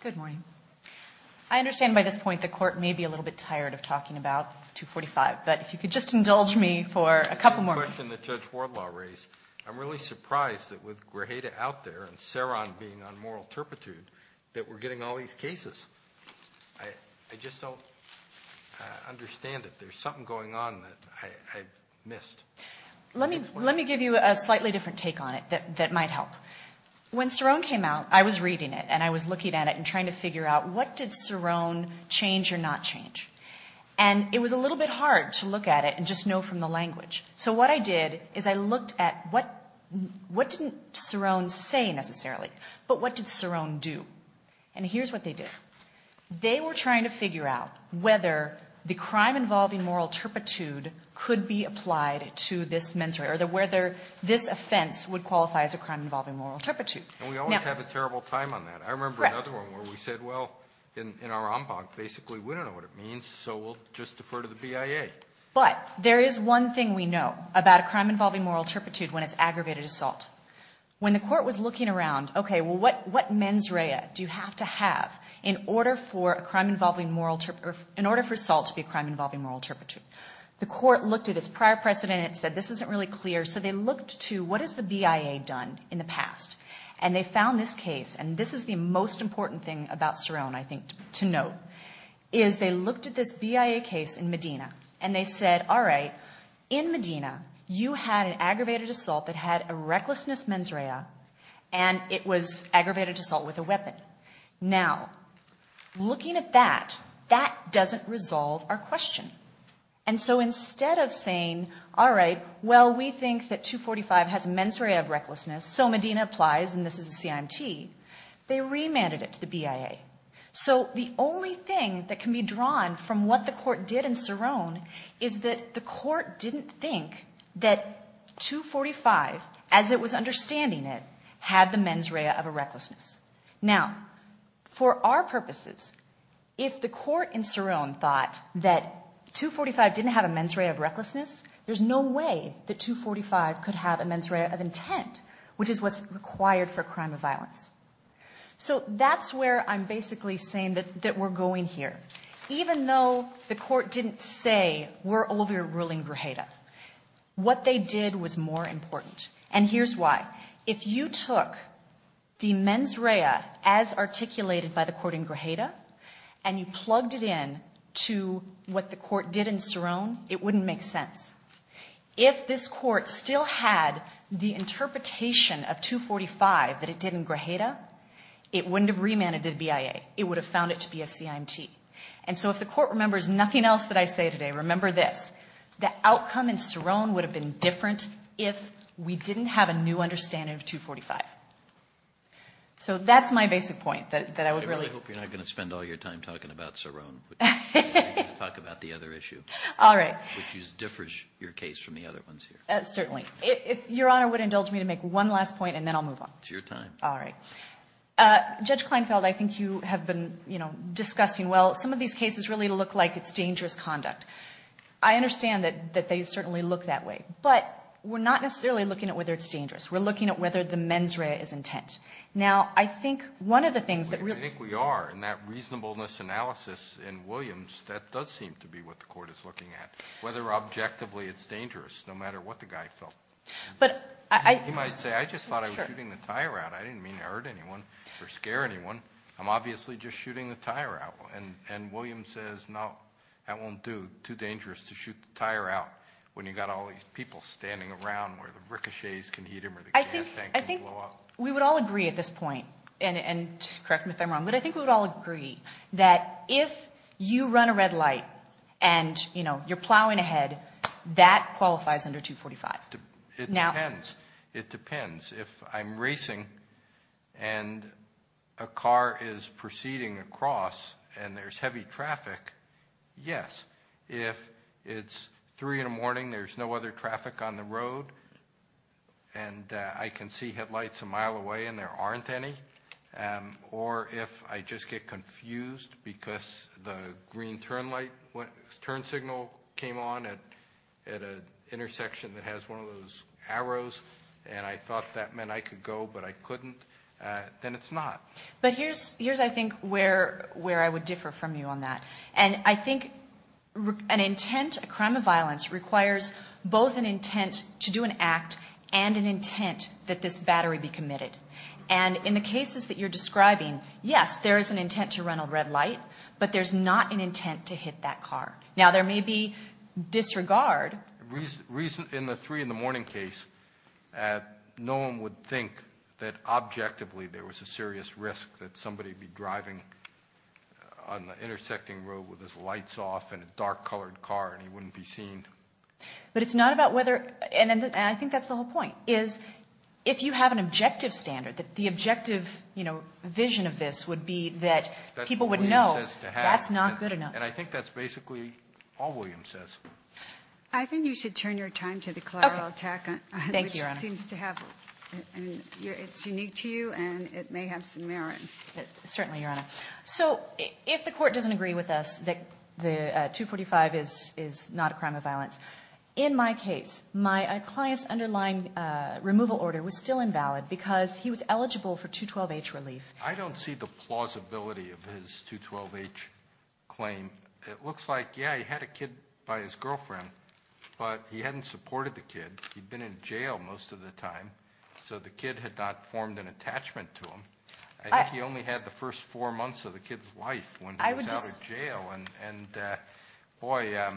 Good morning. I understand by this point the Court may be a little bit tired of talking about 245, but if you could just indulge me for a couple more minutes. I have a question that Judge Wardlaw raised. I'm really surprised that with Grujeda out there and Ceron being on moral turpitude that we're getting all these cases. I just don't understand it. There's something going on that I've missed. Let me give you a slightly different take on it that might help. When Ceron came out, I was reading it and I was looking at it and trying to figure out what did Ceron change or not change. And it was a little bit hard to look at it and just know from the language. So what I did is I looked at what didn't Ceron say necessarily, but what did Ceron do. And here's what they did. They were trying to figure out whether the crime involving moral turpitude could be applied to this mens rea, or whether this offense would qualify as a crime involving moral turpitude. And we always have a terrible time on that. Correct. I remember another one where we said, well, in our en banc, basically we don't know what it means, so we'll just defer to the BIA. But there is one thing we know about a crime involving moral turpitude when it's aggravated assault. When the court was looking around, okay, well, what mens rea do you have to have in order for assault to be a crime involving moral turpitude? The court looked at its prior precedent and said, this isn't really clear. So they looked to what has the BIA done in the past. And they found this case, and this is the most important thing about Ceron, I think, to note, is they looked at this BIA case in Medina. And they said, all right, in Medina, you had an aggravated assault that had a recklessness mens rea, and it was aggravated assault with a weapon. Now, looking at that, that doesn't resolve our question. And so instead of saying, all right, well, we think that 245 has mens rea of recklessness, so Medina applies, and this is a CIMT, they remanded it to the BIA. So the only thing that can be drawn from what the court did in Ceron is that the court didn't think that 245, as it was understanding it, had the mens rea of a recklessness. Now, for our purposes, if the court in Ceron thought that 245 didn't have a mens rea of recklessness, there's no way that 245 could have a mens rea of intent, which is what's required for a crime of violence. So that's where I'm basically saying that we're going here. Even though the court didn't say, we're overruling Grajeda, what they did was more important. And here's why. If you took the mens rea as articulated by the court in Grajeda, and you plugged it in to what the court did in Ceron, it wouldn't make sense. If this court still had the interpretation of 245 that it did in Grajeda, it wouldn't have remanded to the BIA. It would have found it to be a CIMT. And so if the court remembers nothing else that I say today, remember this. The outcome in Ceron would have been different if we didn't have a new understanding of 245. So that's my basic point that I would really – I really hope you're not going to spend all your time talking about Ceron. Talk about the other issue. All right. Which differs your case from the other ones here. Certainly. If Your Honor would indulge me to make one last point, and then I'll move on. It's your time. All right. Judge Kleinfeld, I think you have been discussing, well, some of these cases really look like it's dangerous conduct. I understand that they certainly look that way. But we're not necessarily looking at whether it's dangerous. We're looking at whether the mens rea is intent. Now, I think one of the things that really – Whether objectively it's dangerous, no matter what the guy felt. But I – You might say, I just thought I was shooting the tire out. I didn't mean to hurt anyone or scare anyone. I'm obviously just shooting the tire out. And William says, no, that won't do. Too dangerous to shoot the tire out when you've got all these people standing around where the ricochets can hit them or the gas tank can blow up. I think we would all agree at this point, and correct me if I'm wrong, but I think we would all agree that if you run a red light and, you know, you're plowing ahead, that qualifies under 245. It depends. It depends. If I'm racing and a car is proceeding across and there's heavy traffic, yes. If it's 3 in the morning, there's no other traffic on the road and I can see headlights a mile away and there aren't any. Or if I just get confused because the green turn signal came on at an intersection that has one of those arrows and I thought that meant I could go but I couldn't, then it's not. But here's, I think, where I would differ from you on that. And I think an intent, a crime of violence, requires both an intent to do an act and an intent that this battery be committed. And in the cases that you're describing, yes, there is an intent to run a red light, but there's not an intent to hit that car. Now, there may be disregard. In the 3 in the morning case, no one would think that objectively there was a serious risk that somebody would be driving on the intersecting road with his lights off in a dark-colored car and he wouldn't be seen. But it's not about whether, and I think that's the whole point, is if you have an objective standard, the objective vision of this would be that people would know that's not good enough. And I think that's basically all William says. I think you should turn your time to the collateral attack, which seems to have, it's unique to you and it may have some merit. Certainly, Your Honor. So if the court doesn't agree with us that 245 is not a crime of violence, in my case, my client's underlying removal order was still invalid because he was eligible for 212H relief. I don't see the plausibility of his 212H claim. It looks like, yeah, he had a kid by his girlfriend, but he hadn't supported the kid. He'd been in jail most of the time, so the kid had not formed an attachment to him. I think he only had the first four months of the kid's life when he was out of jail. And boy, your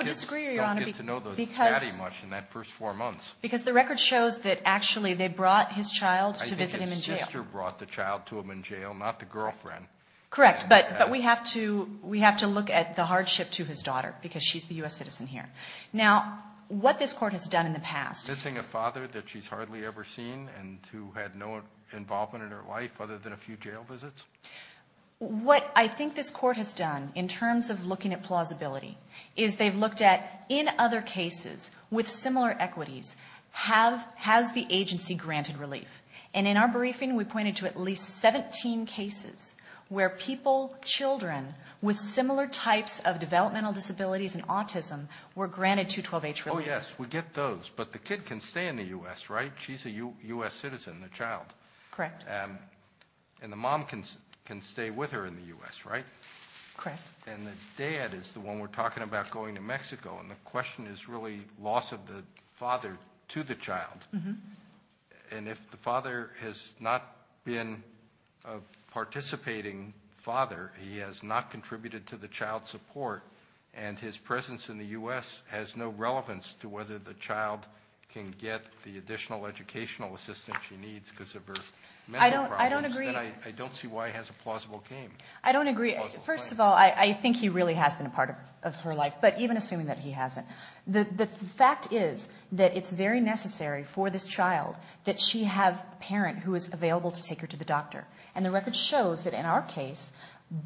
kids don't get to know Maddie much in that first four months. Because the record shows that actually they brought his child to visit him in jail. I think his sister brought the child to him in jail, not the girlfriend. Correct, but we have to look at the hardship to his daughter because she's the U.S. citizen here. Now, what this court has done in the past- Missing a father that she's hardly ever seen and who had no involvement in her life other than a few jail visits? What I think this court has done in terms of looking at plausibility is they've looked at, in other cases with similar equities, has the agency granted relief? And in our briefing, we pointed to at least 17 cases where people, children, with similar types of developmental disabilities and autism were granted 212H relief. Oh, yes, we get those, but the kid can stay in the U.S., right? She's a U.S. citizen, the child. Correct. And the mom can stay with her in the U.S., right? Correct. And the dad is the one we're talking about going to Mexico, and the question is really loss of the father to the child. And if the father has not been a participating father, he has not contributed to the child's support, and his presence in the U.S. has no relevance to whether the child can get the additional educational assistance that she needs because of her mental problems. I don't agree. And I don't see why he has a plausible claim. I don't agree. First of all, I think he really has been a part of her life, but even assuming that he hasn't. The fact is that it's very necessary for this child that she have a parent who is available to take her to the doctor. And the record shows that in our case,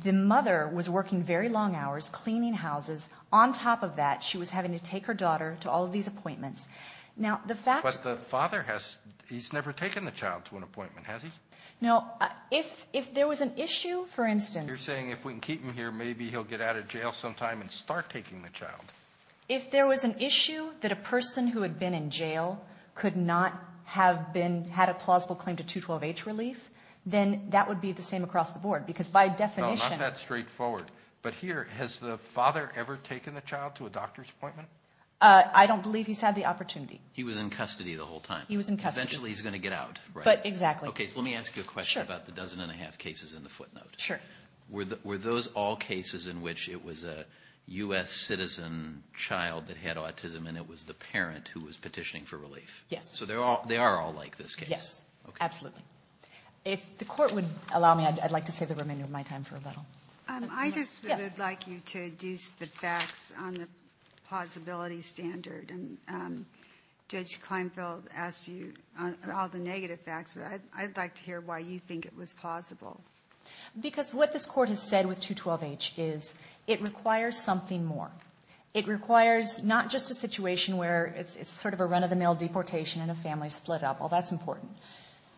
the mother was working very long hours cleaning houses. On top of that, she was having to take her daughter to all of these appointments. But the father has never taken the child to an appointment, has he? No. If there was an issue, for instance. You're saying if we can keep him here, maybe he'll get out of jail sometime and start taking the child. If there was an issue that a person who had been in jail could not have had a plausible claim to 212H relief, then that would be the same across the board because by definition. No, not that straightforward. But here, has the father ever taken the child to a doctor's appointment? I don't believe he's had the opportunity. He was in custody the whole time? He was in custody. Eventually he's going to get out, right? Exactly. Okay, so let me ask you a question about the dozen and a half cases in the footnote. Sure. Were those all cases in which it was a U.S. citizen child that had autism and it was the parent who was petitioning for relief? Yes. So they are all like this case? Yes. Absolutely. If the court would allow me, I'd like to save the remainder of my time for rebuttal. I just would like you to deduce the facts on the plausibility standard. And Judge Kleinfeld asked you all the negative facts, but I'd like to hear why you think it was plausible. Because what this court has said with 212H is it requires something more. It requires not just a situation where it's sort of a run-of-the-mill deportation and a family split up. Well, that's important.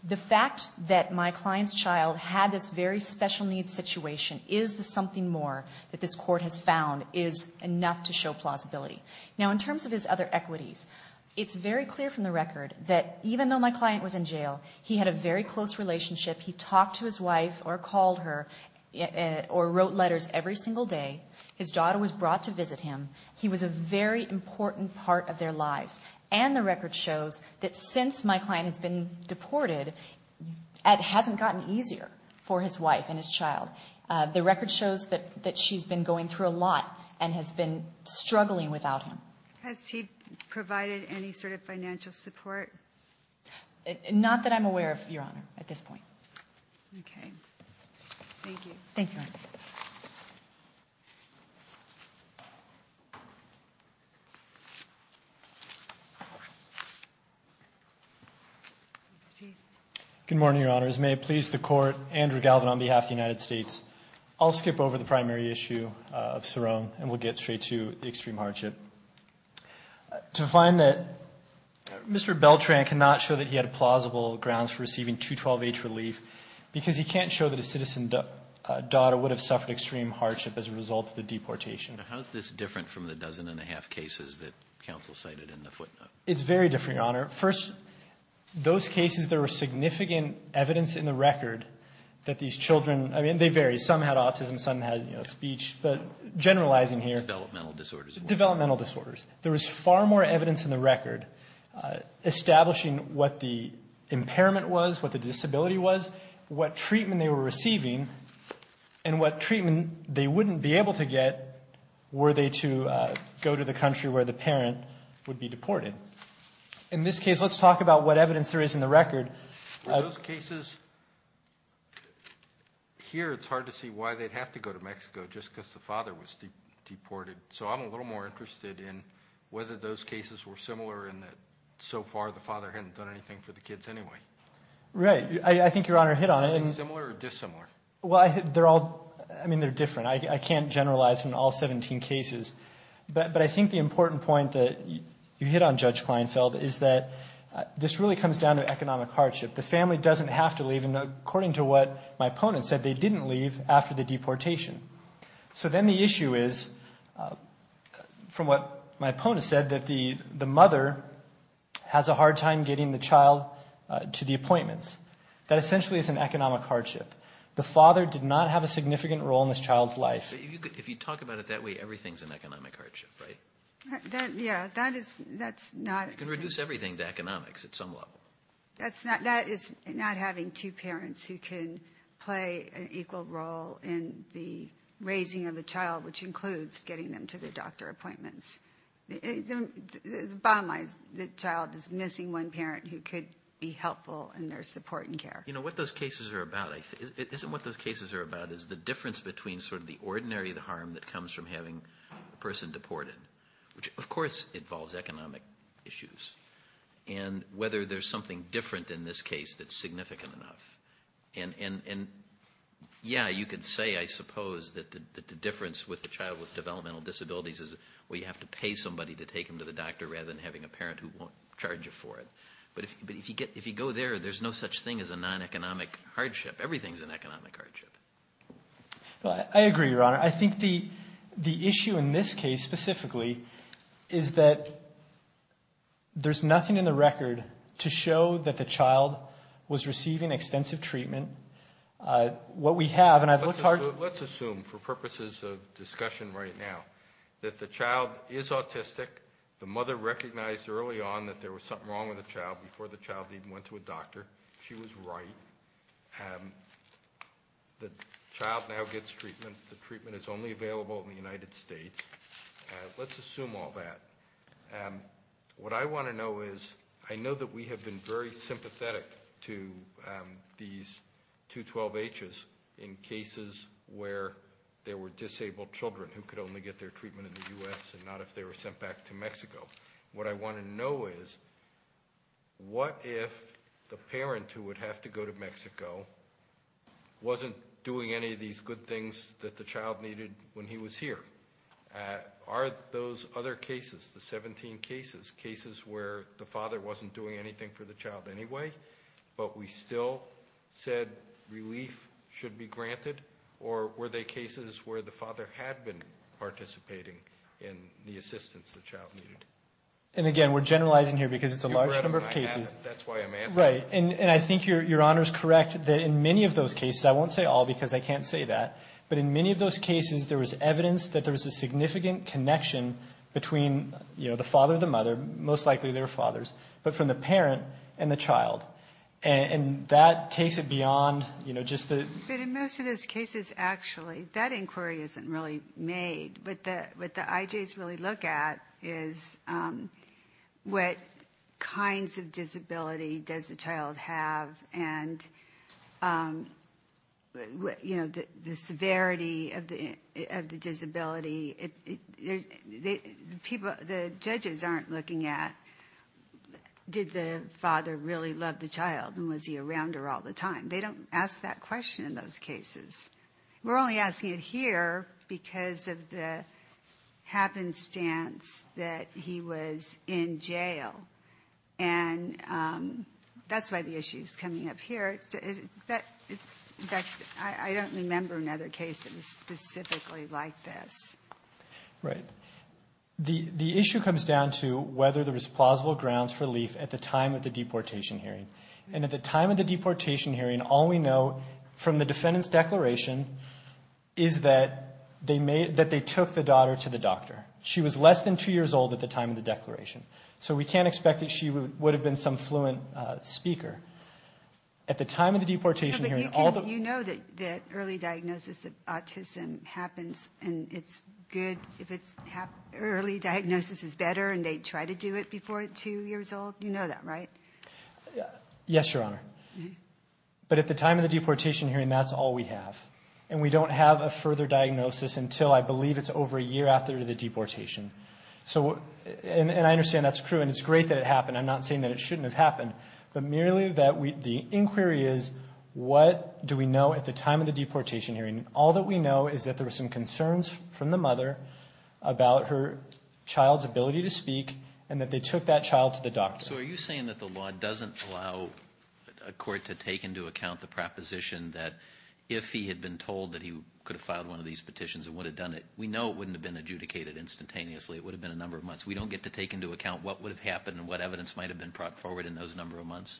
The fact that my client's child had this very special needs situation is the something more that this court has found is enough to show plausibility. Now, in terms of his other equities, it's very clear from the record that even though my client was in jail, he had a very close relationship. He talked to his wife or called her or wrote letters every single day. His daughter was brought to visit him. He was a very important part of their lives. And the record shows that since my client has been deported, it hasn't gotten easier for his wife and his child. The record shows that she's been going through a lot and has been struggling without him. Has he provided any sort of financial support? Not that I'm aware of, Your Honor, at this point. Thank you. Thank you, Your Honor. Good morning, Your Honors. May it please the Court, Andrew Galvin on behalf of the United States. I'll skip over the primary issue of Sorone and we'll get straight to the extreme hardship. To find that Mr. Beltran cannot show that he had plausible grounds for receiving 212H relief because he can't show that a citizen daughter would have suffered extreme hardship as a result of the deportation. Now, how is this different from the dozen and a half cases that counsel cited in the footnotes? It's very different, Your Honor. First, those cases, there was significant evidence in the record that these children, I mean, they vary. Some had autism. Some had speech. But generalizing here. Developmental disorders. Developmental disorders. There was far more evidence in the record establishing what the impairment was, what the disability was, what treatment they were receiving, and what treatment they wouldn't be able to get were they to go to the country where the parent would be deported. In this case, let's talk about what evidence there is in the record. For those cases, here it's hard to see why they'd have to go to Mexico just because the father was deported. So I'm a little more interested in whether those cases were similar in that so far the father hadn't done anything for the kids anyway. Right. I think Your Honor hit on it. Are they similar or dissimilar? Well, they're all, I mean, they're different. I can't generalize in all 17 cases. But I think the important point that you hit on, Judge Kleinfeld, is that this really comes down to economic hardship. The family doesn't have to leave, and according to what my opponent said, they didn't leave after the deportation. So then the issue is, from what my opponent said, that the mother has a hard time getting the child to the appointments. That essentially is an economic hardship. The father did not have a significant role in this child's life. If you talk about it that way, everything's an economic hardship, right? Yeah, that is not. You can reduce everything to economics at some level. That is not having two parents who can play an equal role in the raising of a child, which includes getting them to their doctor appointments. Bottom line is the child is missing one parent who could be helpful in their support and care. You know, what those cases are about, I think, isn't what those cases are about, is the difference between sort of the ordinary harm that comes from having a person deported, which of course involves economic issues, and whether there's something different in this case that's significant enough. And, yeah, you could say, I suppose, that the difference with a child with developmental disabilities is, well, you have to pay somebody to take them to the doctor rather than having a parent who won't charge you for it. But if you go there, there's no such thing as a non-economic hardship. Everything's an economic hardship. I agree, Your Honor. I think the issue in this case specifically is that there's nothing in the record to show that the child was receiving extensive treatment. What we have, and I've looked hard at it. Let's assume, for purposes of discussion right now, that the child is autistic. The mother recognized early on that there was something wrong with the child before the child even went to a doctor. She was right. The child now gets treatment. The treatment is only available in the United States. Let's assume all that. What I want to know is, I know that we have been very sympathetic to these 212-Hs in cases where there were disabled children who could only get their treatment in the U.S. and not if they were sent back to Mexico. What I want to know is, what if the parent who would have to go to Mexico wasn't doing any of these good things that the child needed when he was here? Are those other cases, the 17 cases, cases where the father wasn't doing anything for the child anyway, but we still said relief should be granted? Or were they cases where the father had been participating in the assistance the child needed? And again, we're generalizing here because it's a large number of cases. That's why I'm asking. Right. And I think your Honor is correct that in many of those cases, I won't say all because I can't say that, but in many of those cases there was evidence that there was a significant connection between the father and the mother, most likely their fathers, but from the parent and the child. And that takes it beyond just the... But in most of those cases, actually, that inquiry isn't really made. What the IJs really look at is what kinds of disability does the child have and the severity of the disability. The judges aren't looking at did the father really love the child and was he around her all the time. They don't ask that question in those cases. We're only asking it here because of the happenstance that he was in jail. And that's why the issue is coming up here. In fact, I don't remember another case that was specifically like this. Right. The issue comes down to whether there was plausible grounds for relief at the time of the deportation hearing. And at the time of the deportation hearing, all we know from the defendant's declaration is that they took the daughter to the doctor. She was less than two years old at the time of the declaration. So we can't expect that she would have been some fluent speaker. At the time of the deportation hearing, all the... But you know that early diagnosis of autism happens and it's good if it's early diagnosis is better and they try to do it before two years old. You know that, right? Yes, Your Honor. But at the time of the deportation hearing, that's all we have. And we don't have a further diagnosis until, I believe, it's over a year after the deportation. And I understand that's true and it's great that it happened. I'm not saying that it shouldn't have happened. But merely that the inquiry is what do we know at the time of the deportation hearing? All that we know is that there were some concerns from the mother about her child's ability to speak and that they took that child to the doctor. So are you saying that the law doesn't allow a court to take into account the proposition that if he had been told that he could have filed one of these petitions and would have done it, we know it wouldn't have been adjudicated instantaneously. It would have been a number of months. We don't get to take into account what would have happened and what evidence might have been brought forward in those number of months?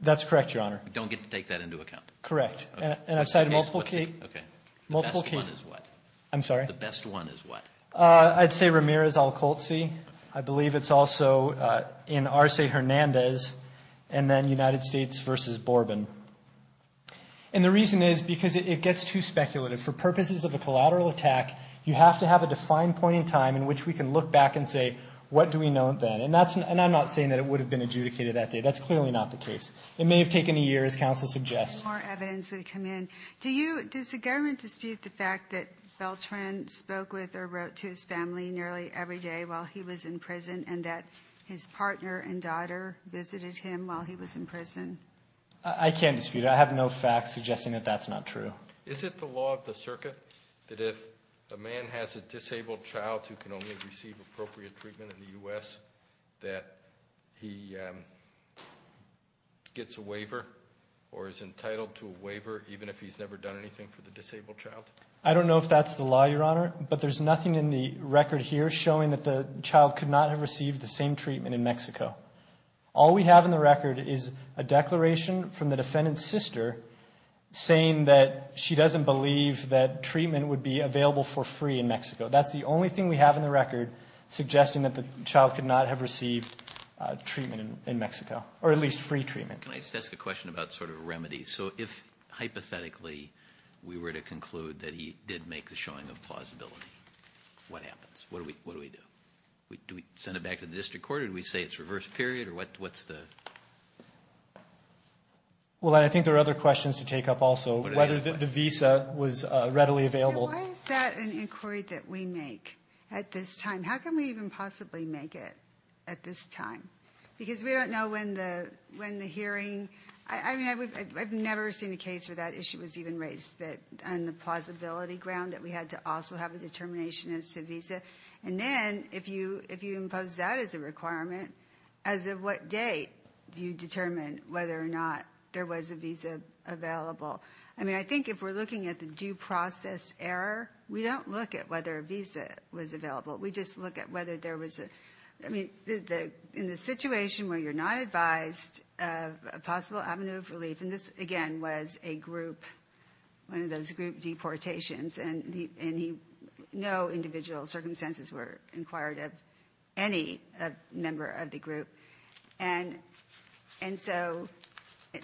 That's correct, Your Honor. We don't get to take that into account? Correct. And I've cited multiple cases. Okay. The best one is what? I'm sorry? The best one is what? I'd say Ramirez v. Al-Kholtzy. I believe it's also in Arce v. Hernandez and then United States v. Borbin. And the reason is because it gets too speculative. For purposes of a collateral attack, you have to have a defined point in time in which we can look back and say, what do we know then? And I'm not saying that it would have been adjudicated that day. That's clearly not the case. It may have taken a year, as counsel suggests. More evidence would come in. Does the government dispute the fact that Beltran spoke with or wrote to his family nearly every day while he was in prison and that his partner and daughter visited him while he was in prison? I can't dispute it. I have no facts suggesting that that's not true. Is it the law of the circuit that if a man has a disabled child who can only receive appropriate treatment in the U.S., that he gets a waiver or is entitled to a waiver even if he's never done anything for the disabled child? I don't know if that's the law, Your Honor, but there's nothing in the record here showing that the child could not have received the same treatment in Mexico. All we have in the record is a declaration from the defendant's sister saying that she doesn't believe that treatment would be available for free in Mexico. That's the only thing we have in the record suggesting that the child could not have received treatment in Mexico, or at least free treatment. Can I just ask a question about sort of a remedy? So if hypothetically we were to conclude that he did make the showing of plausibility, what happens? What do we do? Do we send it back to the district court or do we say it's reverse period? What's the...? Well, I think there are other questions to take up also, whether the visa was readily available. Why is that an inquiry that we make at this time? How can we even possibly make it at this time? Because we don't know when the hearing. I mean, I've never seen a case where that issue was even raised on the plausibility ground that we had to also have a determination as to visa. And then if you impose that as a requirement, as of what date do you determine whether or not there was a visa available? I mean, I think if we're looking at the due process error, we don't look at whether a visa was available. We just look at whether there was a... I mean, in the situation where you're not advised of a possible avenue of relief, and this, again, was a group, one of those group deportations, and no individual circumstances were inquired of any member of the group. And so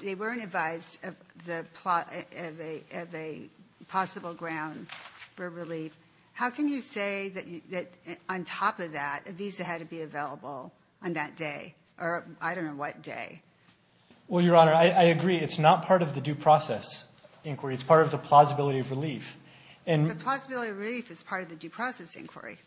they weren't advised of a possible ground for relief. How can you say that on top of that, a visa had to be available on that day, or I don't know what day? Well, Your Honor, I agree. It's not part of the due process inquiry. It's part of the plausibility of relief. The plausibility of relief is part of the due process inquiry.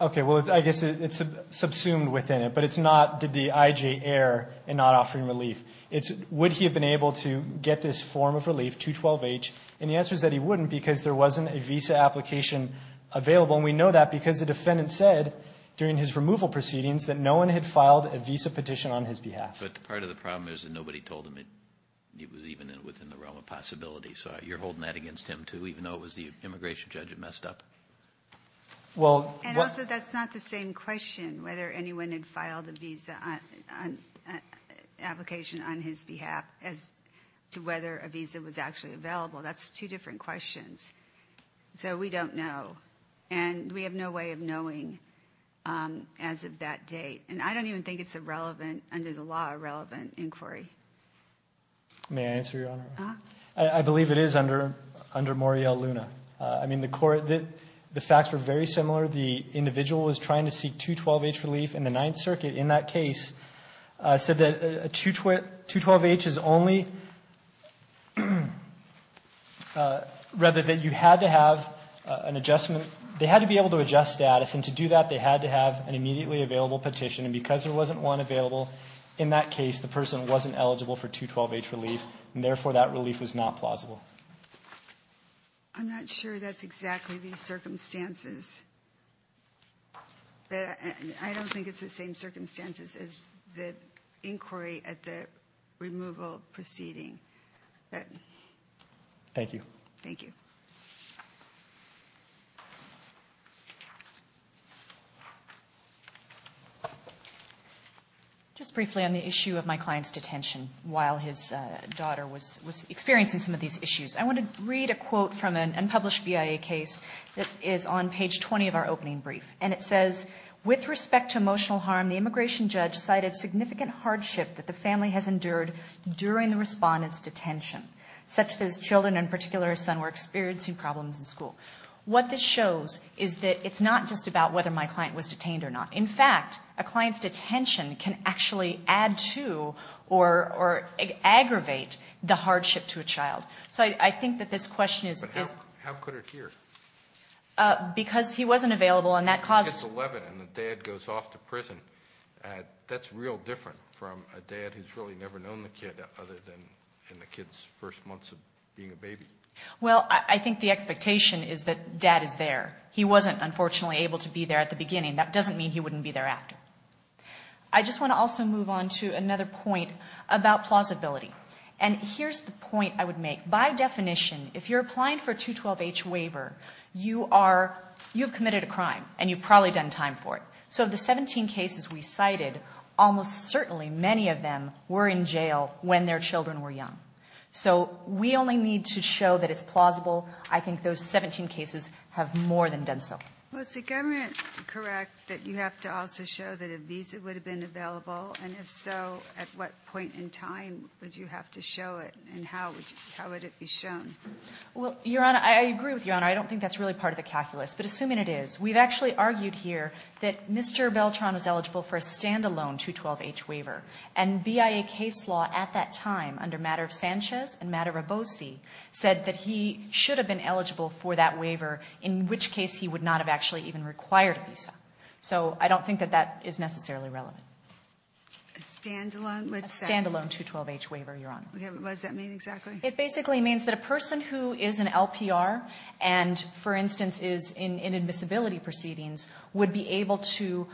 Okay, well, I guess it's subsumed within it, but it's not did the I.J. err in not offering relief. It's would he have been able to get this form of relief, 212H, and the answer is that he wouldn't because there wasn't a visa application available, and we know that because the defendant said during his removal proceedings that no one had filed a visa petition on his behalf. But part of the problem is that nobody told him and it was even within the realm of possibility. So you're holding that against him too, even though it was the immigration judge that messed up? And also that's not the same question, whether anyone had filed a visa application on his behalf as to whether a visa was actually available. That's two different questions. So we don't know, and we have no way of knowing as of that date. And I don't even think it's a relevant, under the law, a relevant inquiry. May I answer, Your Honor? I believe it is under Morial Luna. I mean, the facts were very similar. The individual was trying to seek 212H relief, and the Ninth Circuit in that case said that 212H is only, rather, that you had to have an adjustment. They had to be able to adjust status, and to do that, they had to have an immediately available petition, and because there wasn't one available in that case, the person wasn't eligible for 212H relief, and therefore that relief was not plausible. I'm not sure that's exactly the circumstances. I don't think it's the same circumstances as the inquiry at the removal proceeding. Thank you. Thank you. Just briefly on the issue of my client's detention while his daughter was experiencing some of these issues, I want to read a quote from an unpublished BIA case that is on page 20 of our opening brief, and it says, With respect to emotional harm, the immigration judge cited significant hardship that the family has endured during the respondent's detention, such that his children, in particular his son, were experiencing problems in school. What this shows is that it's not just about whether my client was detained or not. In fact, a client's detention can actually add to or aggravate the hardship to a child. So I think that this question is... But how could it hear? Because he wasn't available, and that caused... He's 11, and the dad goes off to prison. That's real different from a dad who's really never known the kid other than in the kid's first months of being a baby. Well, I think the expectation is that dad is there. He wasn't, unfortunately, able to be there at the beginning. That doesn't mean he wouldn't be there after. I just want to also move on to another point about plausibility. And here's the point I would make. By definition, if you're applying for a 212-H waiver, you've committed a crime, and you've probably done time for it. So of the 17 cases we cited, almost certainly many of them were in jail when their children were young. So we only need to show that it's plausible. I think those 17 cases have more than done so. Well, is the government correct that you have to also show that a visa would have been available? And if so, at what point in time would you have to show it? And how would it be shown? Well, Your Honor, I agree with Your Honor. I don't think that's really part of the calculus. But assuming it is, we've actually argued here that Mr. Beltran was eligible for a standalone 212-H waiver. And BIA case law at that time, under Matter of Sanchez and Matter of Boese, said that he should have been eligible for that waiver, in which case he would not have actually even required a visa. So I don't think that that is necessarily relevant. A standalone? A standalone 212-H waiver, Your Honor. What does that mean exactly? It basically means that a person who is an LPR and, for instance, is in invisibility proceedings, would be able to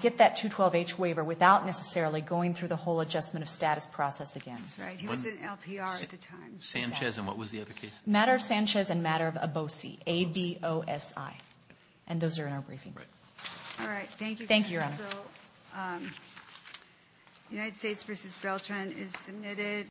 get that 212-H waiver without necessarily going through the whole adjustment of status process again. That's right. He was an LPR at the time. Sanchez. And what was the other case? Matter of Sanchez and Matter of Boese. A-B-O-S-E. And those are in our briefing. Right. All right. Thank you. Thank you, Your Honor. So, United States v. Beltran is submitted.